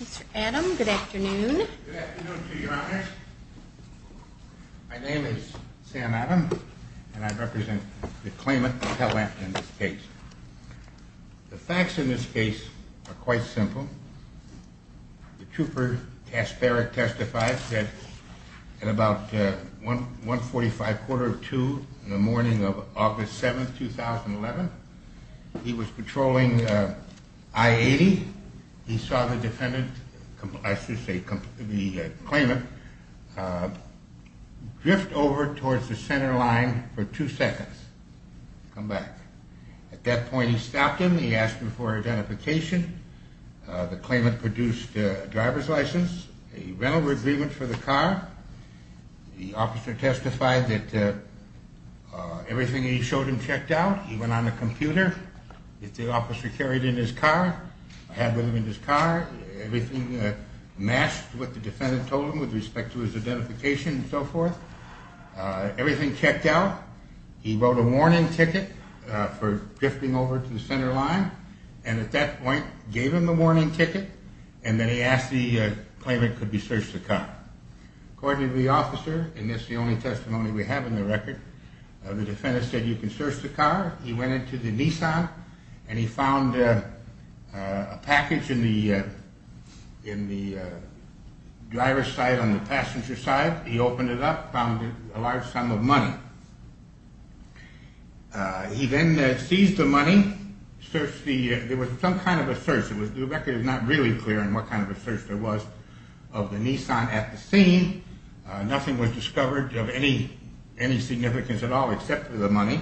Mr. Adam, good afternoon. Good afternoon to you, Your Honor. My name is Sam Adam, and I represent the claimant, Patel Adams, in this case. The facts in this case are quite simple. The trooper testified that at about 1.45, quarter of two in the morning of August 7th, 2011, he was patrolling I-80. He saw the defendant, I should say the claimant, drift over towards the center line for two seconds, come back. At that point he stopped him, he asked for identification. The claimant produced a driver's license, a rental agreement for the car. The officer testified that everything he showed him checked out. He went on the computer. The officer carried him in his car, had him in his car. Everything matched what the defendant told him with respect to his identification and so forth. Everything checked out. He wrote a warning ticket for drifting over to the center line, and at that point gave him the warning ticket, and then he asked the claimant if he could search the car. According to the officer, and this is the only testimony we have in the record, the defendant said you can search the car. He went into the Nissan and he found a package in the driver's side on the passenger side. He opened it up, found a large sum of money. He then seized the money, searched the, there was some kind of a search, the record is not really clear on what kind of a search there was of the Nissan at the scene. Nothing was discovered of any significance at all except for the money.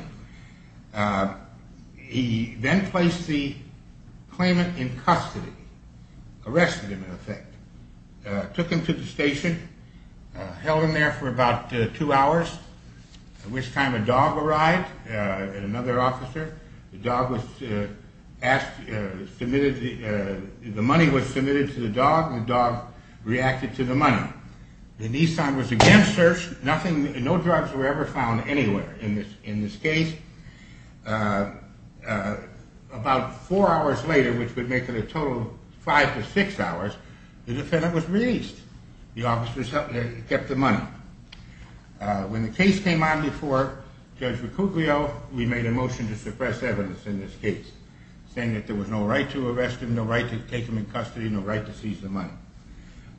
He then placed the claimant in custody, arrested him in effect, took him to the station, held him there for about two hours, at which time a dog arrived, another officer. The money was submitted to the dog, the dog reacted to the money. The Nissan was again searched, no drugs were ever found anywhere in this case. About four hours later, which would make it a total of five to six hours, the defendant was released. The officer kept the money. When the case came on before Judge Ricuclio, we made a motion to suppress evidence in this case, saying that there was no right to arrest him, no right to take him in custody, no right to seize the money.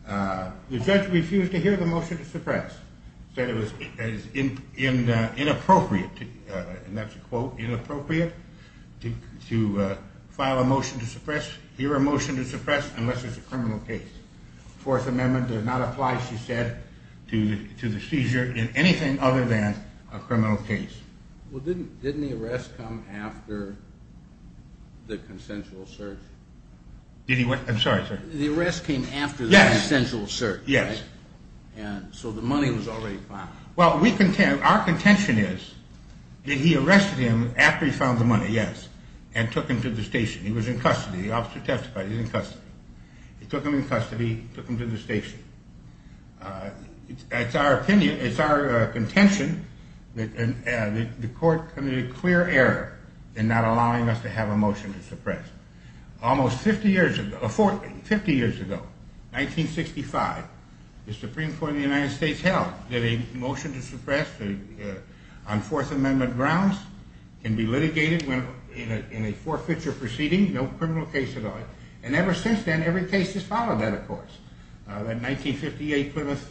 The judge refused to hear the motion to suppress, said it was inappropriate, and that's a quote, inappropriate to file a motion to suppress, hear a motion to suppress unless it's a criminal case. Fourth Amendment does not apply, she said, to the seizure in anything other than a criminal case. Well, didn't the arrest come after the consensual search? I'm sorry, sir? The arrest came after the consensual search, right? Yes. And so the money was already found. Well, our contention is that he arrested him after he found the money, yes, and took him to the station. He was in custody, the officer testified he was in custody. He took him in custody, took him to the station. It's our contention that the court committed a clear error in not allowing us to have a motion to suppress. Almost 50 years ago, 1965, the Supreme Court of the United States held that a motion to suppress on Fourth Amendment grounds can be litigated in a forfeiture proceeding, no criminal case at all. And ever since then, every case has followed that, of course. That 1958 Plymouth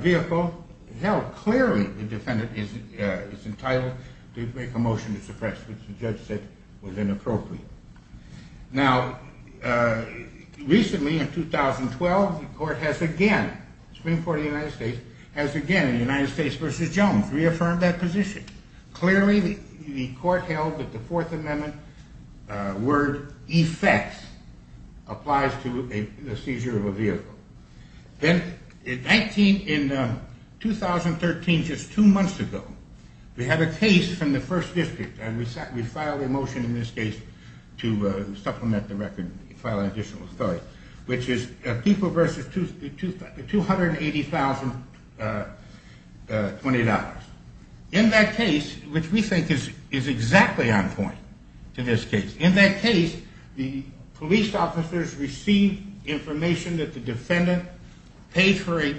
vehicle held clearly the defendant is entitled to make a motion to suppress, which the judge said was inappropriate. Now, recently, in 2012, the court has again, Supreme Court of the United States, has again, United States v. Jones, reaffirmed that position. Clearly, the court held that the Fourth Amendment word effects applies to a seizure of a vehicle. Then in 2013, just two months ago, we had a case from the first district, and we filed a motion in this case to supplement the record, file an additional authority, which is people versus $280,020. In that case, which we think is exactly on point to this case, in that case, the police officers received information that the defendant paid for a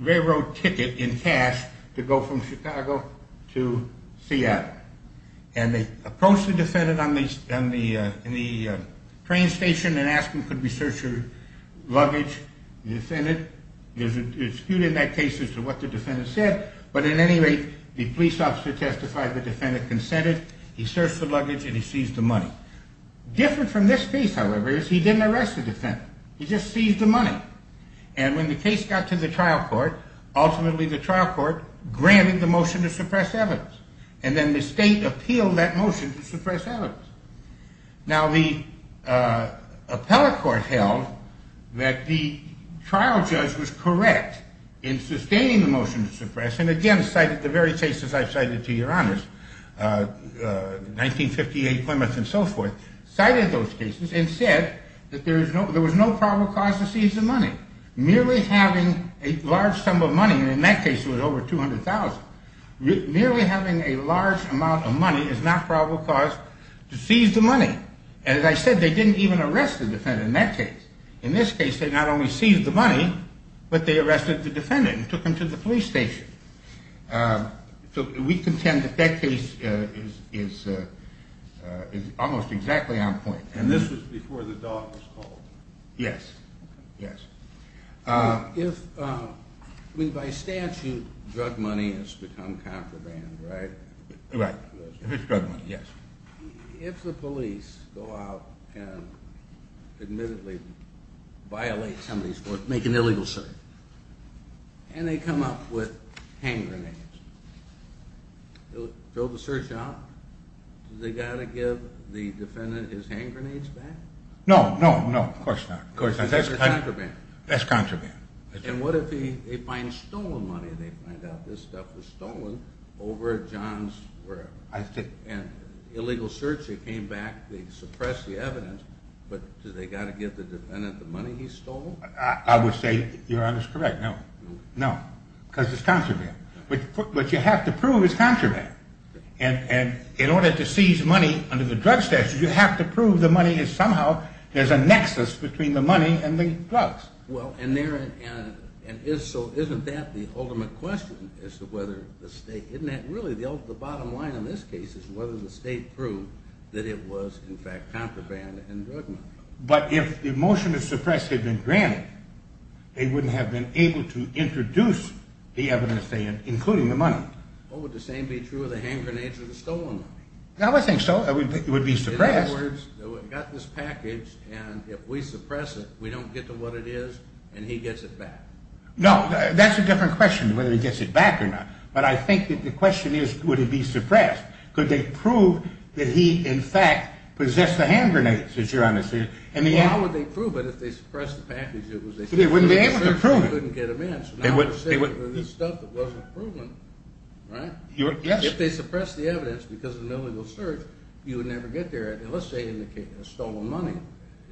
railroad ticket in cash to go from Chicago to Seattle. And they approached the defendant on the train station and asked him, could we search your luggage? The defendant, there's a dispute in that case as to what the defendant said, but at any rate, the police officer testified the defendant consented, he searched the luggage, and he seized the money. Different from this case, however, is he didn't arrest the defendant. He just seized the money. And when the case got to the trial court, ultimately the trial court granted the motion to suppress evidence. And then the state appealed that motion to suppress evidence. Now, the appellate court held that the trial judge was correct in sustaining the motion to suppress, and again, cited the very cases I've cited to your honors, 1958, Plymouth, and so forth, cited those cases and said that there was no probable cause to seize the money. Merely having a large sum of money, and in that case it was over $200,000, merely having a large amount of money is not probable cause to seize the money. And as I said, they didn't even arrest the defendant in that case. In this case, they not only seized the money, but they arrested the defendant and took him to the police station. So we contend that that case is almost exactly on point. And this was before the dog was called. Yes. By statute, drug money has become contraband, right? Right. If it's drug money, yes. If the police go out and admittedly violate somebody's court, make an illegal search, and they come up with hand grenades, they'll throw the search out? Do they got to give the defendant his hand grenades back? No, no, no, of course not. Because that's contraband. That's contraband. And what if they find stolen money? They find out this stuff was stolen over at John's, wherever. Illegal search, they came back, they suppressed the evidence, but do they got to give the defendant the money he stole? I would say your honor is correct, no. No. Because it's contraband. What you have to prove is contraband. And in order to seize money under the drug statute, you have to prove the money is somehow, there's a nexus between the money and the drugs. And so isn't that the ultimate question as to whether the state, isn't that really the bottom line in this case, is whether the state proved that it was in fact contraband and drug money. But if the motion to suppress had been granted, they wouldn't have been able to introduce the evidence, including the money. Well, would the same be true of the hand grenades or the stolen money? I would think so. It would be suppressed. In other words, we got this package, and if we suppress it, we don't get to what it is, and he gets it back. No, that's a different question, whether he gets it back or not. But I think that the question is, would it be suppressed? Could they prove that he, in fact, possessed the hand grenades, your honor? Well, how would they prove it if they suppressed the package? They wouldn't be able to prove it. If they suppress the evidence, because of the search, you would never get there. Let's say in the case of stolen money,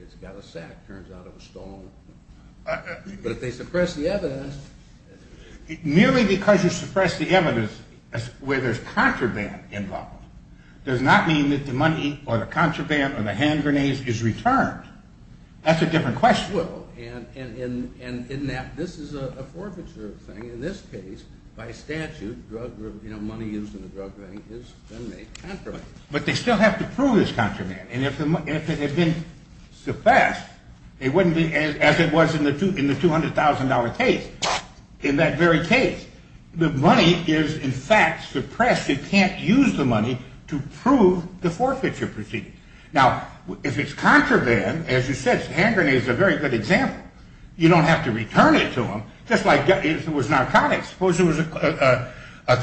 it's got a sack, turns out it was stolen. But if they suppress the evidence… But they still have to prove this contraband. And if it had been suppressed, it wouldn't be as it was in the $200,000 case. In that very case, the money is, in fact, suppressed. It can't use the money. Now, if it's contraband, as you said, hand grenades are a very good example. You don't have to return it to him, just like if it was narcotics. Suppose there was a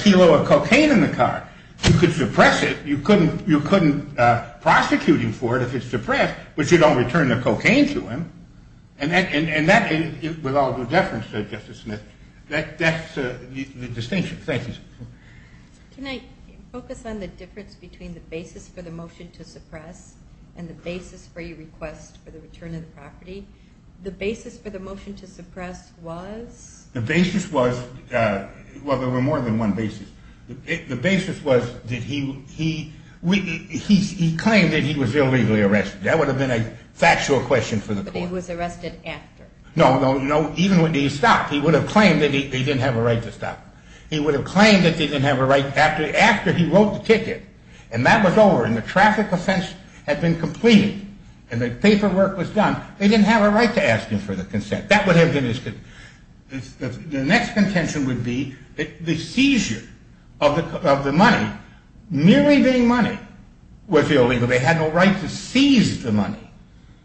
kilo of cocaine in the car. You could suppress it. You couldn't prosecute him for it if it's suppressed, but you don't return the cocaine to him. And that, with all due deference to Justice Smith, that's the distinction. Thank you, sir. Can I focus on the difference between the basis for the motion to suppress and the basis for your request for the return of the property? The basis for the motion to suppress was… The basis was, well, there were more than one basis. The basis was that he claimed that he was illegally arrested. That would have been a factual question for the court. But he was arrested after. No, no, no. Even when he stopped, he would have claimed that he didn't have a right to stop. He would have claimed that he didn't have a right after he wrote the ticket. And that was over, and the traffic offense had been completed, and the paperwork was done. They didn't have a right to ask him for the consent. That would have been his… The next contention would be the seizure of the money, merely being money, was illegal. They had no right to seize the money.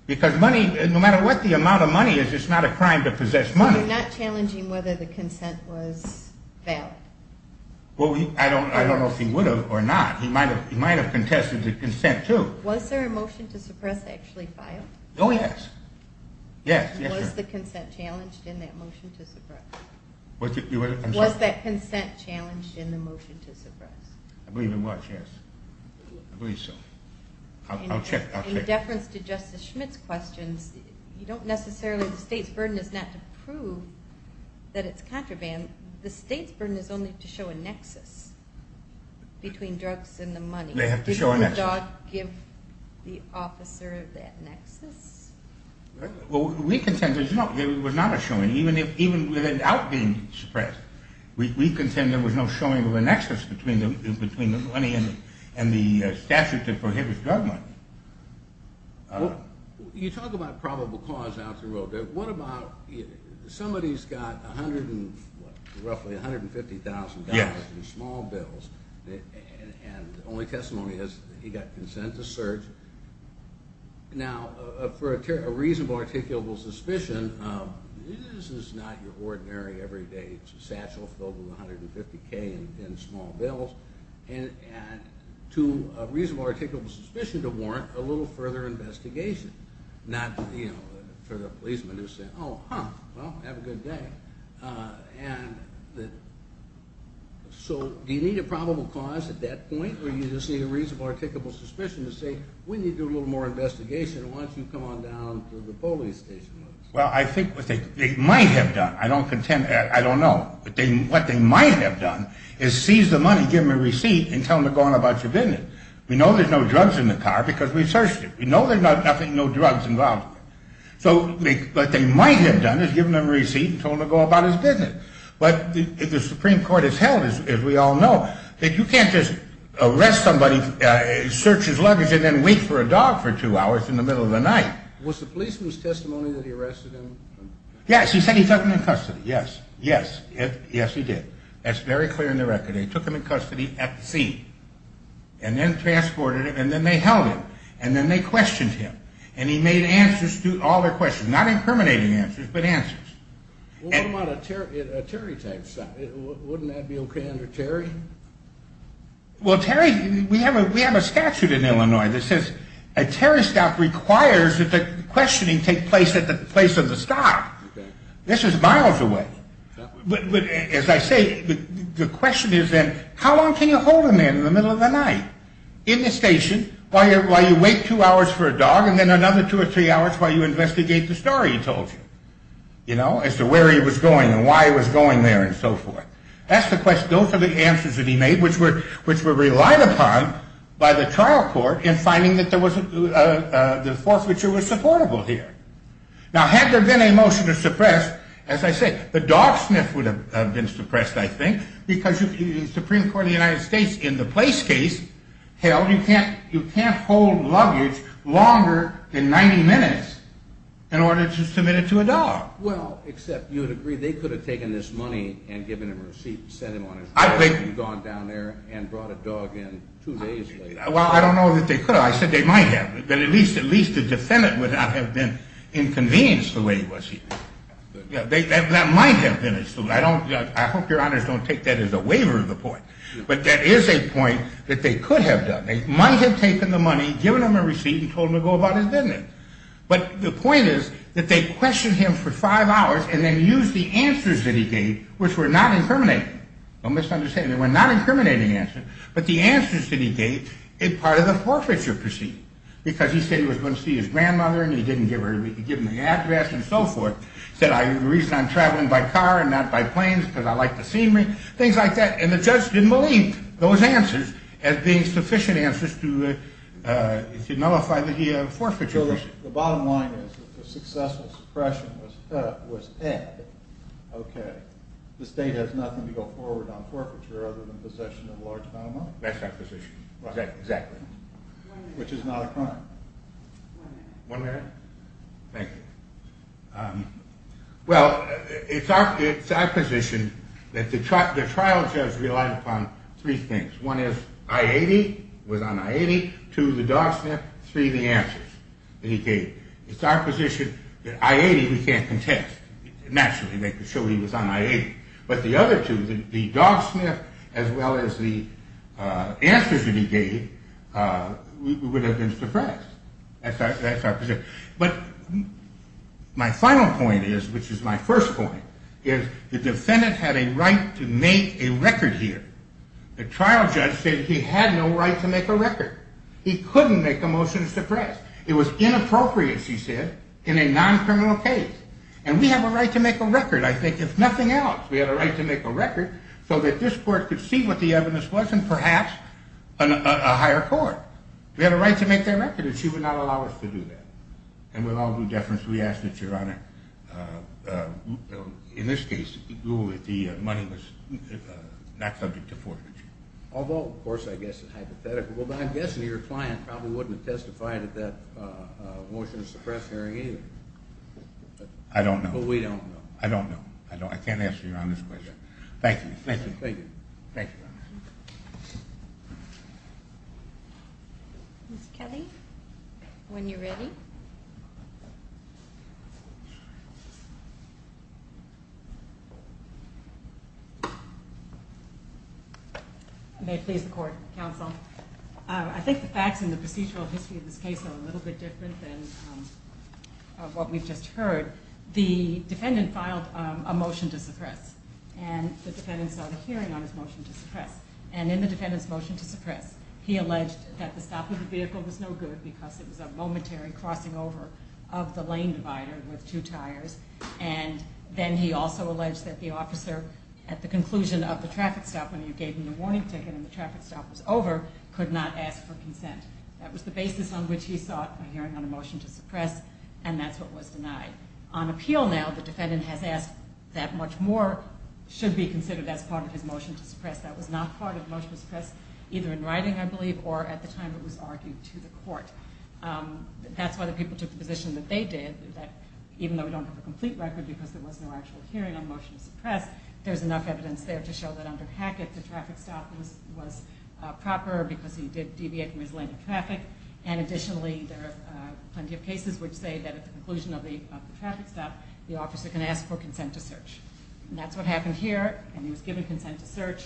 Because money, no matter what the amount of money is, it's not a crime to possess money. You're not challenging whether the consent was valid? Well, I don't know if he would have or not. He might have contested the consent, too. Was there a motion to suppress actually filed? Was that consent challenged in the motion to suppress? I believe it was, yes. I believe so. I'll check, I'll check. In deference to Justice Schmidt's questions, you don't necessarily, the state's burden is not to prove that it's contraband. The state's burden is only to show a nexus between drugs and the money. They have to show a nexus. Well, we contend there was not a showing, even without being suppressed. We contend there was no showing of a nexus between the money and the statute that prohibits drug money. You talk about probable cause out the road. What about, somebody's got roughly $150,000 in small bills, and the only testimony is he got consent to search. Now, for a reasonable, articulable suspicion, this is not your ordinary, everyday satchel filled with $150,000 in small bills. And to a reasonable, articulable suspicion to warrant a little further investigation. Not, you know, for the policeman to say, oh, huh, well, have a good day. And so do you need a probable cause at that point, or do you just need a reasonable, articulable suspicion to say, we need to do a little more investigation. Why don't you come on down to the police station? Well, I think what they might have done, I don't contend, I don't know. What they might have done is seize the money, give them a receipt, and tell them to go on about your business. We know there's no drugs in the car because we searched it. We know there's nothing, no drugs involved. So what they might have done is given them a receipt and told them to go about his business. But the Supreme Court has held, as we all know, that you can't just arrest somebody, search his luggage, and then wait for a dog for two hours in the middle of the night. Was the policeman's testimony that he arrested him? Yes, he said he took him in custody. Yes, yes, yes, he did. That's very clear in the record. They took him in custody at the scene, and then transported him, and then they held him, and then they questioned him. And he made answers to all their questions, not incriminating answers, but answers. What about a Terry tax? Wouldn't that be okay under Terry? Well, Terry, we have a statute in Illinois that says a Terry stop requires that the questioning take place at the place of the stop. This is miles away. But as I say, the question is then how long can you hold a man in the middle of the night in the station while you wait two hours for a dog, and then another two or three hours while you investigate the story he told you, you know, as to where he was going and why he was going there and so forth. That's the question. Those are the answers that he made, which were relied upon by the trial court in finding that the forfeiture was supportable here. Now, had there been a motion to suppress, as I said, the dog sniff would have been suppressed, I think, because the Supreme Court of the United States in the place case held you can't hold luggage longer than 90 minutes in order to submit it to a dog. Well, except you would agree they could have taken this money and given him a receipt and sent him on his way, and gone down there and brought a dog in two days later. Well, I don't know that they could have. I said they might have. But at least the defendant would not have been inconvenienced the way he was here. That might have been his fault. I hope your honors don't take that as a waiver of the point. But that is a point that they could have done. They might have taken the money, given him a receipt, and told him to go about his business. But the point is that they questioned him for five hours and then used the answers that he gave, which were not incriminating. Don't misunderstand me. They were not incriminating answers, but the answers that he gave were part of the forfeiture proceeding. Because he said he was going to see his grandmother and he didn't give her the address and so forth. He said the reason I'm traveling by car and not by plane is because I like the scenery. Things like that. And the judge didn't believe those answers as being sufficient answers to nullify the forfeiture proceeding. The bottom line is that the successful suppression was Ed. Okay. The state has nothing to go forward on forfeiture other than possession of a large amount of money? That's our position. Exactly. Which is not a crime. One minute. Thank you. Well, it's our position that the trial judge relied upon three things. One is I-80. It was on I-80. Two, the dog sniff. Three, the answers that he gave. It's our position that I-80 we can't contest. Naturally, they could show he was on I-80. But the other two, the dog sniff as well as the answers that he gave would have been suppressed. That's our position. But my final point is, which is my first point, is the defendant had a right to make a record here. The trial judge said he had no right to make a record. He couldn't make a motion to suppress. It was inappropriate, she said, in a non-criminal case. And we have a right to make a record, I think, if nothing else. We had a right to make a record so that this court could see what the evidence was and perhaps a higher court. We had a right to make that record, and she would not allow us to do that. And with all due deference, we ask that, Your Honor, in this case, the money was not subject to forfeiture. Although, of course, I guess it's hypothetical. But I'm guessing your client probably wouldn't have testified at that motion to suppress hearing either. I don't know. But we don't know. I don't know. I can't answer Your Honor's question. Thank you. Thank you. Thank you. Thank you, Your Honor. Ms. Kelly, when you're ready. May it please the court, counsel. I think the facts in the procedural history of this case are a little bit different than what we've just heard. The defendant filed a motion to suppress, and the defendant saw the hearing on his motion to suppress. And in the defendant's motion to suppress, he alleged that the stop of the vehicle was no good because it was a momentary crossing over of the lane divider with two tires. And then he also alleged that the officer, at the conclusion of the traffic stop, when you gave him the warning ticket and the traffic stop was over, could not ask for consent. That was the basis on which he sought a hearing on a motion to suppress, and that's what was denied. On appeal now, the defendant has asked that much more should be considered as part of his motion to suppress. That was not part of the motion to suppress, either in writing, I believe, or at the time it was argued to the court. That's why the people took the position that they did, that even though we don't have a complete record because there was no actual hearing on the motion to suppress, there's enough evidence there to show that under Hackett, the traffic stop was proper because he did deviate from his lane of traffic. And additionally, there are plenty of cases which say that at the conclusion of the traffic stop, the officer can ask for consent to search. And that's what happened here, and he was given consent to search,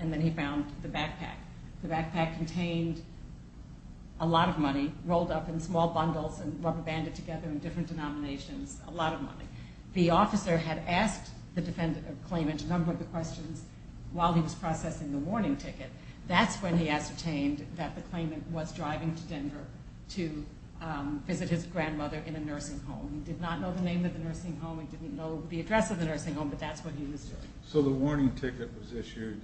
and then he found the backpack. The backpack contained a lot of money, rolled up in small bundles and rubber banded together in different denominations, a lot of money. The officer had asked the defendant, or claimant, a number of questions while he was processing the warning ticket. That's when he ascertained that the claimant was driving to Denver to visit his grandmother in a nursing home. He did not know the name of the nursing home, he didn't know the address of the nursing home, but that's what he was doing. So the warning ticket was issued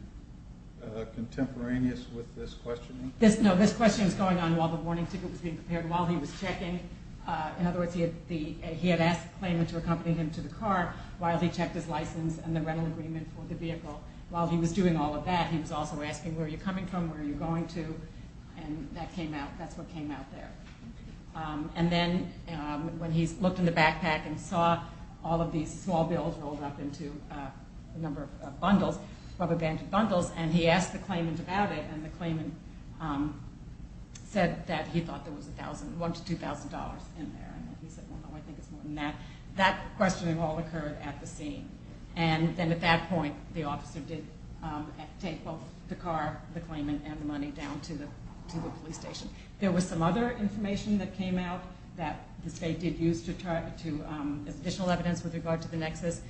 contemporaneous with this questioning? No, this questioning was going on while the warning ticket was being prepared, while he was checking. In other words, he had asked the claimant to accompany him to the car while he checked his license and the rental agreement for the vehicle. While he was doing all of that, he was also asking where you're coming from, where you're going to, and that's what came out there. And then when he looked in the backpack and saw all of these small bills rolled up into a number of bundles, rubber banded bundles, and he asked the claimant about it, and the claimant said that he thought there was $1,000 to $2,000 in there. He said, well, no, I think it's more than that. That questioning all occurred at the scene. And then at that point, the officer did take both the car, the claimant, and the money down to the police station. There was some other information that came out that the state did use as additional evidence with regard to the nexus,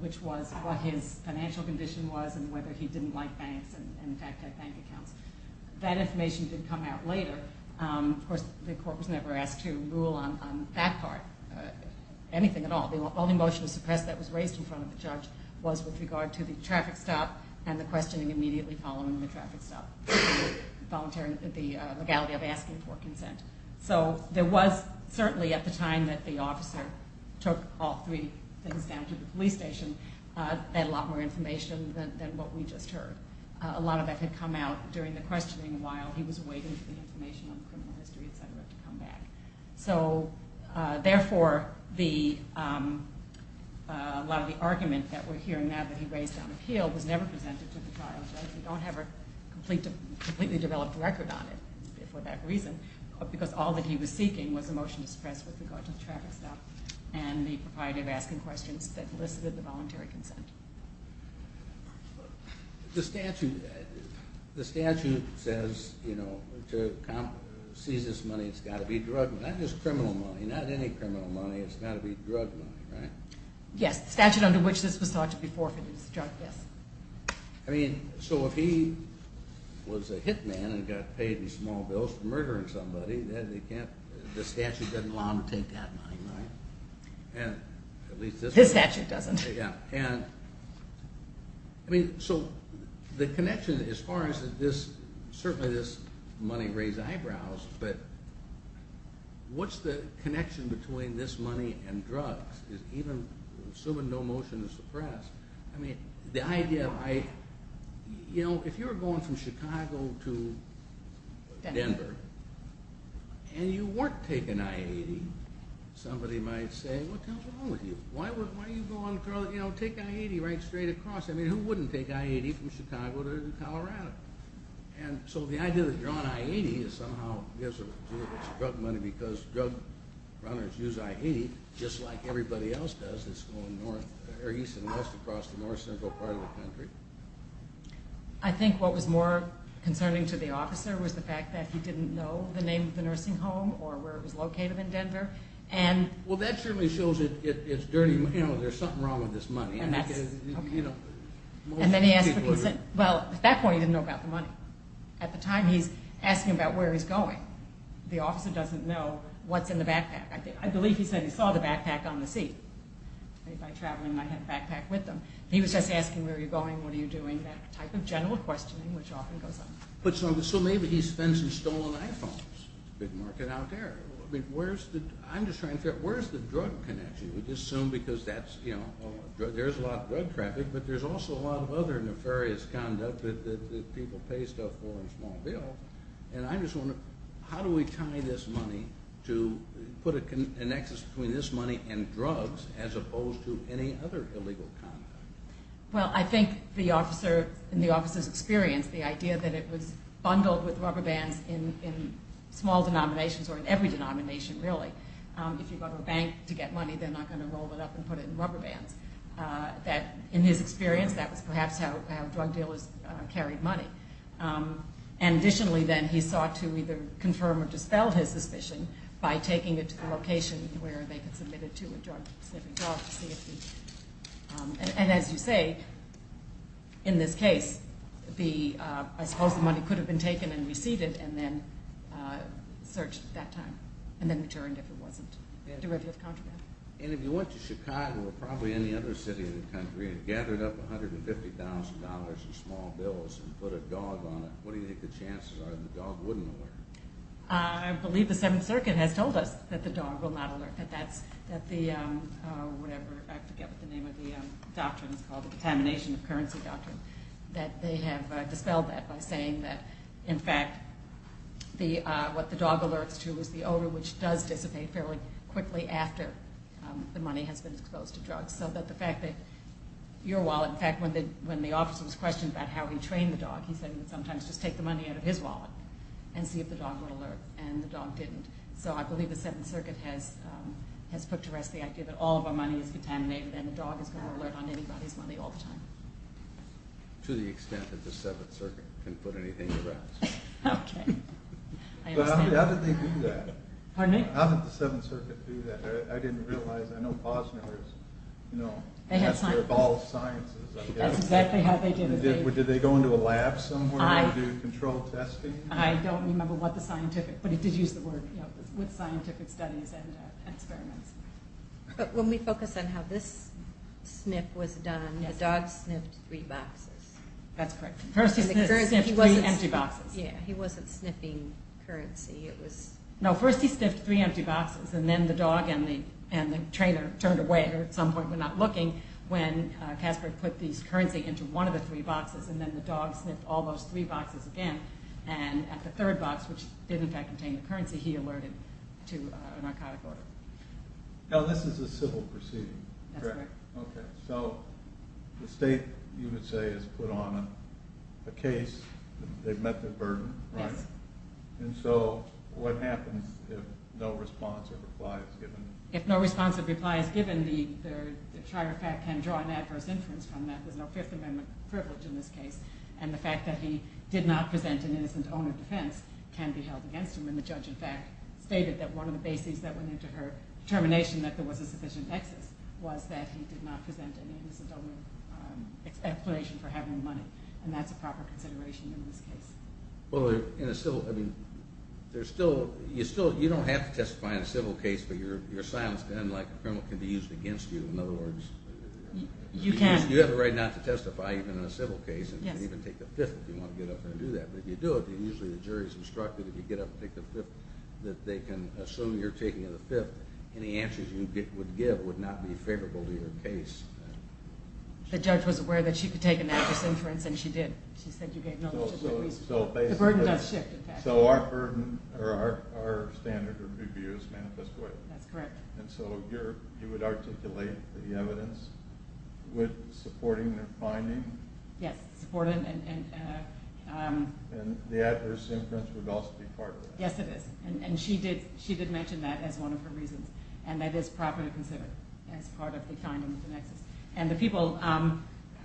which was what his financial condition was and whether he didn't like banks and, in fact, had bank accounts. That information did come out later. Of course, the court was never asked to rule on that part, anything at all. The only motion to suppress that was raised in front of the judge was with regard to the traffic stop and the questioning immediately following the traffic stop, the legality of asking for consent. So there was certainly at the time that the officer took all three things down to the police station, a lot more information than what we just heard. A lot of that had come out during the questioning while he was waiting for the information on the criminal history, et cetera, to come back. So therefore, a lot of the argument that we're hearing now that he raised on appeal was never presented to the trial judge. We don't have a completely developed record on it for that reason, because all that he was seeking was a motion to suppress with regard to the traffic stop and the propriety of asking questions that elicited the voluntary consent. The statute says, you know, to seize this money, it's got to be drug money. Not just criminal money, not any criminal money. It's got to be drug money, right? Yes, the statute under which this was thought to be forfeited was drug, yes. I mean, so if he was a hit man and got paid in small bills for murdering somebody, the statute doesn't allow him to take that money, right? His statute doesn't. Yeah, and I mean, so the connection as far as this, certainly this money raised eyebrows, but what's the connection between this money and drugs? Even assuming no motion to suppress, I mean, the idea of, you know, if you were going from Chicago to Denver and you weren't taking I-80, somebody might say, what the hell's wrong with you? Why do you go on, you know, take I-80 right straight across? I mean, who wouldn't take I-80 from Chicago to Colorado? And so the idea that you're on I-80 is somehow drug money because drug runners use I-80 just like everybody else does. It's going east and west across the north central part of the country. I think what was more concerning to the officer was the fact that he didn't know the name of the nursing home or where it was located in Denver. Well, that certainly shows it's dirty money. You know, there's something wrong with this money. And then he asked what he said. Well, at that point he didn't know about the money. At the time he's asking about where he's going. The officer doesn't know what's in the backpack. I believe he said he saw the backpack on the seat. Anybody traveling might have a backpack with them. He was just asking where you're going, what are you doing, that type of general questioning which often goes on. So maybe he spends some stolen iPhones. It's a big market out there. I'm just trying to figure out where's the drug connection? We just assume because there's a lot of drug traffic, but there's also a lot of other nefarious conduct that people pay stuff for in small bills. And I'm just wondering how do we tie this money to put a nexus between this money and drugs as opposed to any other illegal conduct? Well, I think the officer, in the officer's experience, the idea that it was bundled with rubber bands in small denominations or in every denomination really. If you go to a bank to get money, they're not going to roll it up and put it in rubber bands. In his experience, that was perhaps how drug dealers carried money. And additionally, then, he sought to either confirm or dispel his suspicion by taking it to the location where they could submit it to a drug-specific drug to see if the – and as you say, in this case, the – I suppose the money could have been taken and received and then searched at that time and then returned if it wasn't derivative contraband. And if you went to Chicago or probably any other city in the country and gathered up $150,000 in small bills and put a dog on it, what do you think the chances are that the dog wouldn't alert? I believe the Seventh Circuit has told us that the dog will not alert, that that's – that the – whatever – I forget what the name of the doctrine is called, the Detamination of Currency Doctrine, that they have dispelled that by saying that, in fact, the – what the dog alerts to is the odor, which does dissipate fairly quickly after the money has been exposed to drugs. So that the fact that your wallet – in fact, when the officer was questioned about how he trained the dog, he said he would sometimes just take the money out of his wallet and see if the dog would alert, and the dog didn't. So I believe the Seventh Circuit has put to rest the idea that all of our money is contaminated and the dog is going to alert on anybody's money all the time. To the extent that the Seventh Circuit can put anything to rest. Okay. I understand. But how did they do that? Pardon me? How did the Seventh Circuit do that? I didn't realize. I know Posner is, you know, master of all sciences. That's exactly how they did it. Did they go into a lab somewhere and do controlled testing? I don't remember what the scientific – but it did use the word, you know, with scientific studies and experiments. But when we focus on how this sniff was done, the dog sniffed three boxes. That's correct. First he sniffed three empty boxes. Yeah, he wasn't sniffing currency. It was – No, first he sniffed three empty boxes, and then the dog and the trainer turned away or at some point went out looking when Kasper put these currency into one of the three boxes, and then the dog sniffed all those three boxes again, and at the third box, which did in fact contain the currency, he alerted to a narcotic order. Now this is a civil proceeding. That's correct. Okay. So the state, you would say, has put on a case. They've met their burden, right? Yes. And so what happens if no response or reply is given? If no response or reply is given, the trial fact can draw an adverse inference from that. There's no Fifth Amendment privilege in this case, and the fact that he did not present an innocent owner defense can be held against him, and the judge in fact stated that one of the bases that went into her determination that there was a sufficient excess was that he did not present an innocent owner explanation for having money, and that's a proper consideration in this case. Well, in a civil – I mean, there's still – you still – you don't have to testify in a civil case, but your silence then, like a criminal, can be used against you. In other words – You can. You have a right not to testify even in a civil case. Yes. And you can even take the Fifth if you want to get up there and do that. But if you do it, usually the jury is instructed if you get up and take the Fifth that they can assume you're taking the Fifth. Any answers you would give would not be favorable to your case. The judge was aware that she could take an adverse inference, and she did. The burden does shift, in fact. So our burden – or our standard of abuse manifests away. That's correct. And so you would articulate the evidence with supporting the finding? Yes, supporting and – And the adverse inference would also be part of that. Yes, it is, and she did mention that as one of her reasons, and that is proper to consider as part of the finding of the nexus. And the people don't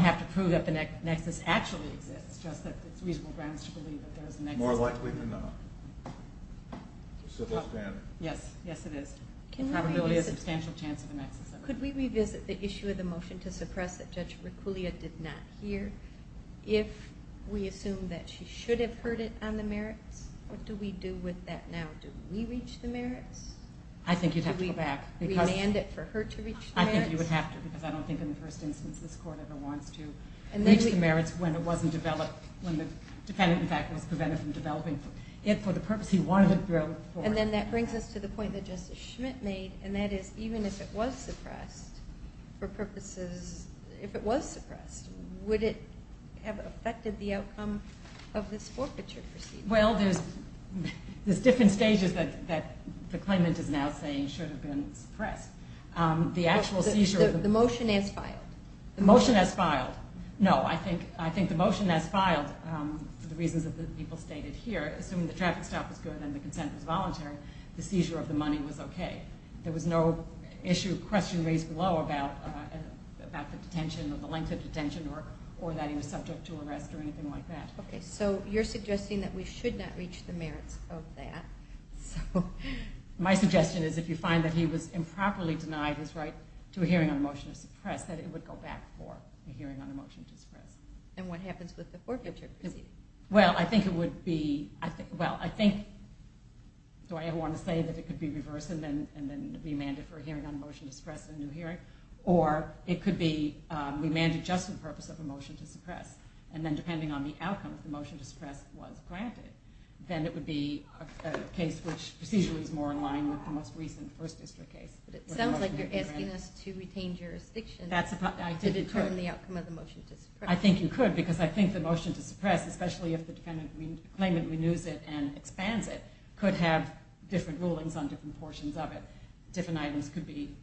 have to prove that the nexus actually exists, just that it's reasonable grounds to believe that there is a nexus. More likely than not. It's a civil standard. Yes, yes, it is. The probability is a substantial chance of a nexus. Could we revisit the issue of the motion to suppress that Judge Reculia did not hear? If we assume that she should have heard it on the merits, what do we do with that now? Do we reach the merits? I think you'd have to go back. We demand it for her to reach the merits? I think you would have to because I don't think in the first instance this Court ever wants to reach the merits when it wasn't developed – when the defendant, in fact, was prevented from developing it for the purpose he wanted it developed for. And then that brings us to the point that Justice Schmitt made, and that is even if it was suppressed for purposes – if it was suppressed, would it have affected the outcome of this forfeiture proceeding? Well, there's different stages that the claimant is now saying should have been suppressed. The actual seizure – The motion is filed. The motion is filed. No, I think the motion is filed for the reasons that the people stated here. Assuming the traffic stop was good and the consent was voluntary, the seizure of the money was okay. There was no issue or question raised below about the detention or the length of detention or that he was subject to arrest or anything like that. Okay, so you're suggesting that we should not reach the merits of that. So my suggestion is if you find that he was improperly denied his right to a hearing on a motion to suppress, that it would go back for a hearing on a motion to suppress. And what happens with the forfeiture proceeding? Well, I think it would be – well, I think – do I ever want to say that it could be reversed and then remanded for a hearing on a motion to suppress and a new hearing? Or it could be remanded just for the purpose of a motion to suppress, and then depending on the outcome, if the motion to suppress was granted, then it would be a case which procedurally is more in line with the most recent First District case. But it sounds like you're asking us to retain jurisdiction to determine the outcome of the motion to suppress. I think you could, because I think the motion to suppress, especially if the claimant renews it and expands it, could have different rulings on different portions of it. Different items could be –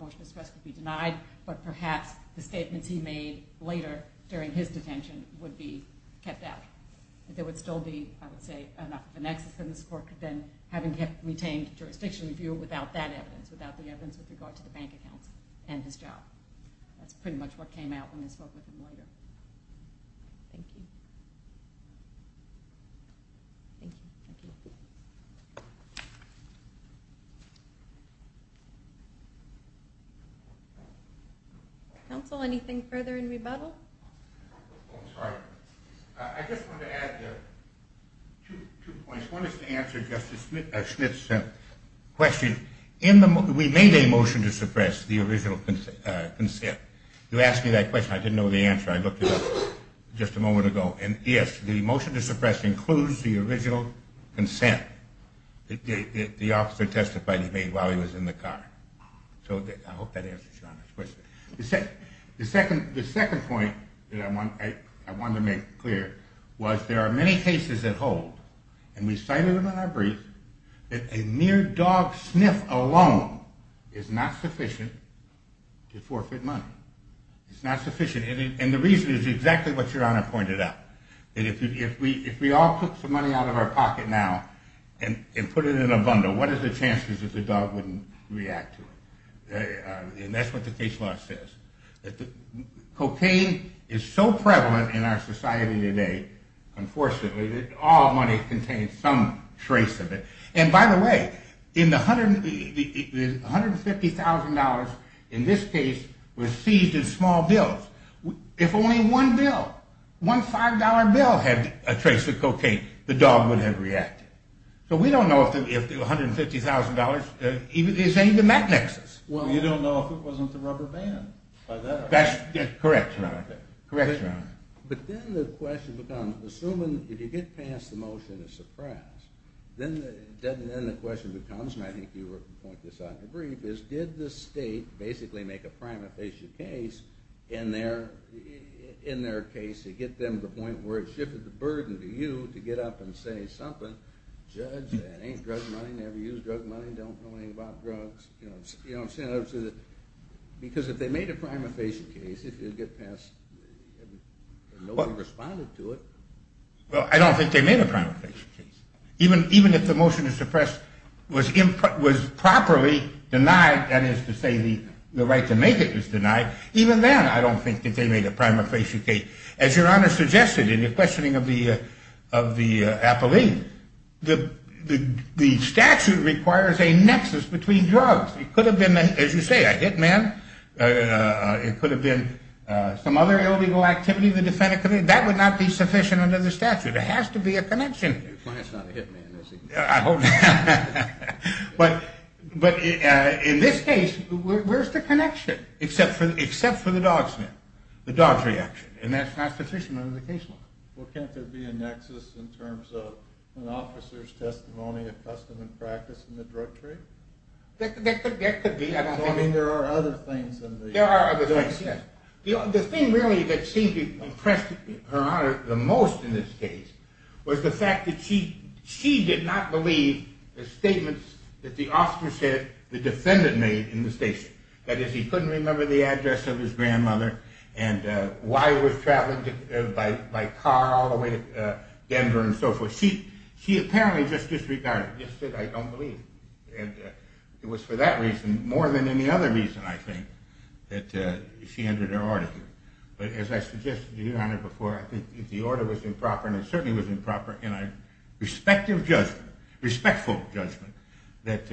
motion to suppress could be denied, but perhaps the statements he made later during his detention would be kept out. But there would still be, I would say, enough of an excess in this court than having retained jurisdiction review without that evidence, without the evidence with regard to the bank accounts and his job. That's pretty much what came out when I spoke with him later. Thank you. Thank you. Counsel, anything further in rebuttal? Oh, I'm sorry. I just wanted to add two points. One is to answer Justice Smith's question. We made a motion to suppress the original consent. You asked me that question. I didn't know the answer. I looked it up just a moment ago. And yes, the motion to suppress includes the original consent that the officer testified he made while he was in the car. So I hope that answers your question. The second point that I wanted to make clear was there are many cases that hold, and we cited them in our brief, that a mere dog sniff alone is not sufficient to forfeit money. It's not sufficient. And the reason is exactly what Your Honor pointed out, that if we all took some money out of our pocket now and put it in a bundle, what are the chances that the dog wouldn't react to it? And that's what the case law says. Cocaine is so prevalent in our society today, unfortunately, that all money contains some trace of it. And by the way, the $150,000 in this case was seized in small bills. If only one bill, one $5 bill had a trace of cocaine, the dog would have reacted. So we don't know if the $150,000 is even that nexus. Well, you don't know if it wasn't the rubber band. That's correct, Your Honor. But then the question becomes, assuming if you get past the motion to suppress, then the question becomes, and I think you pointed this out in the brief, is did the state basically make a prima facie case in their case to get them to the point where it shifted the burden to you to get up and say something, judge, that ain't drug money, never used drug money, don't know anything about drugs, you know what I'm saying, because if they made a prima facie case, if you get past, nobody responded to it. Well, I don't think they made a prima facie case. Even if the motion to suppress was properly denied, that is to say the right to make it was denied, even then I don't think that they made a prima facie case. As Your Honor suggested in your questioning of the appellee, the statute requires a nexus between drugs. It could have been, as you say, a hit man. It could have been some other illegal activity. That would not be sufficient under the statute. There has to be a connection. Your client's not a hit man, is he? I hope not. But in this case, where's the connection, except for the dog sniff, the dog's reaction, and that's not sufficient under the case law. Well, can't there be a nexus in terms of an officer's testimony, a testament practice in the drug trade? That could be. I mean, there are other things. There are other things, yes. The thing really that seemed to impress Her Honor the most in this case was the fact that she did not believe the statements that the by car all the way to Denver and so forth. She apparently just disregarded it, just said, I don't believe. And it was for that reason, more than any other reason, I think, that she entered her order here. But as I suggested to Your Honor before, I think if the order was improper, and it certainly was improper, in a respectful judgment, that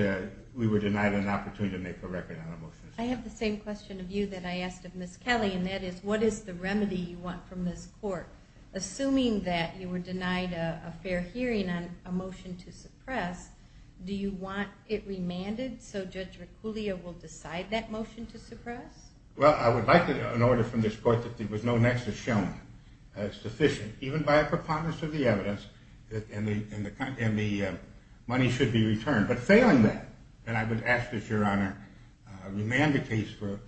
we were denied an opportunity to make a record on a motion. I have the same question of you that I asked of Ms. Kelly, and that is, what is the remedy you want from this court? Assuming that you were denied a fair hearing on a motion to suppress, do you want it remanded so Judge Reculia will decide that motion to suppress? Well, I would like an order from this court that there was no nexus shown sufficient, even by a preponderance of the evidence, and the money should be returned. But failing that, I would ask that Your Honor remand the case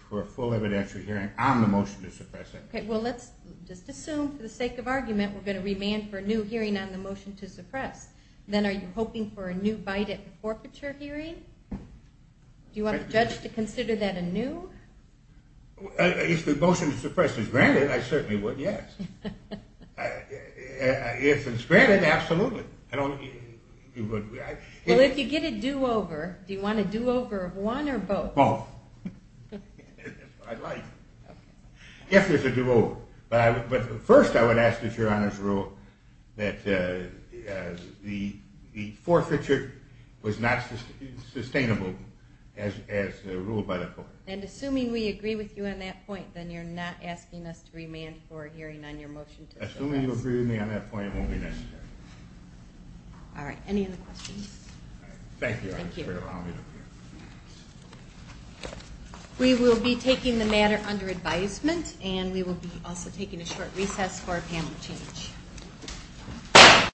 for a full evidentiary hearing on the motion to suppress. Well, let's just assume for the sake of argument we're going to remand for a new hearing on the motion to suppress. Then are you hoping for a new Biden forfeiture hearing? Do you want the judge to consider that a new? If the motion to suppress is granted, I certainly would, yes. If it's granted, absolutely. Well, if you get a do-over, do you want a do-over of one or both? Both. If there's a do-over. But first I would ask that Your Honor's rule that the forfeiture was not sustainable as ruled by the court. And assuming we agree with you on that point, then you're not asking us to remand for a hearing on your motion to suppress. Assuming you agree with me on that point, it won't be necessary. All right. Any other questions? Thank you, Your Honor. We will be taking the matter under advisement, and we will be also taking a short recess for a panel change.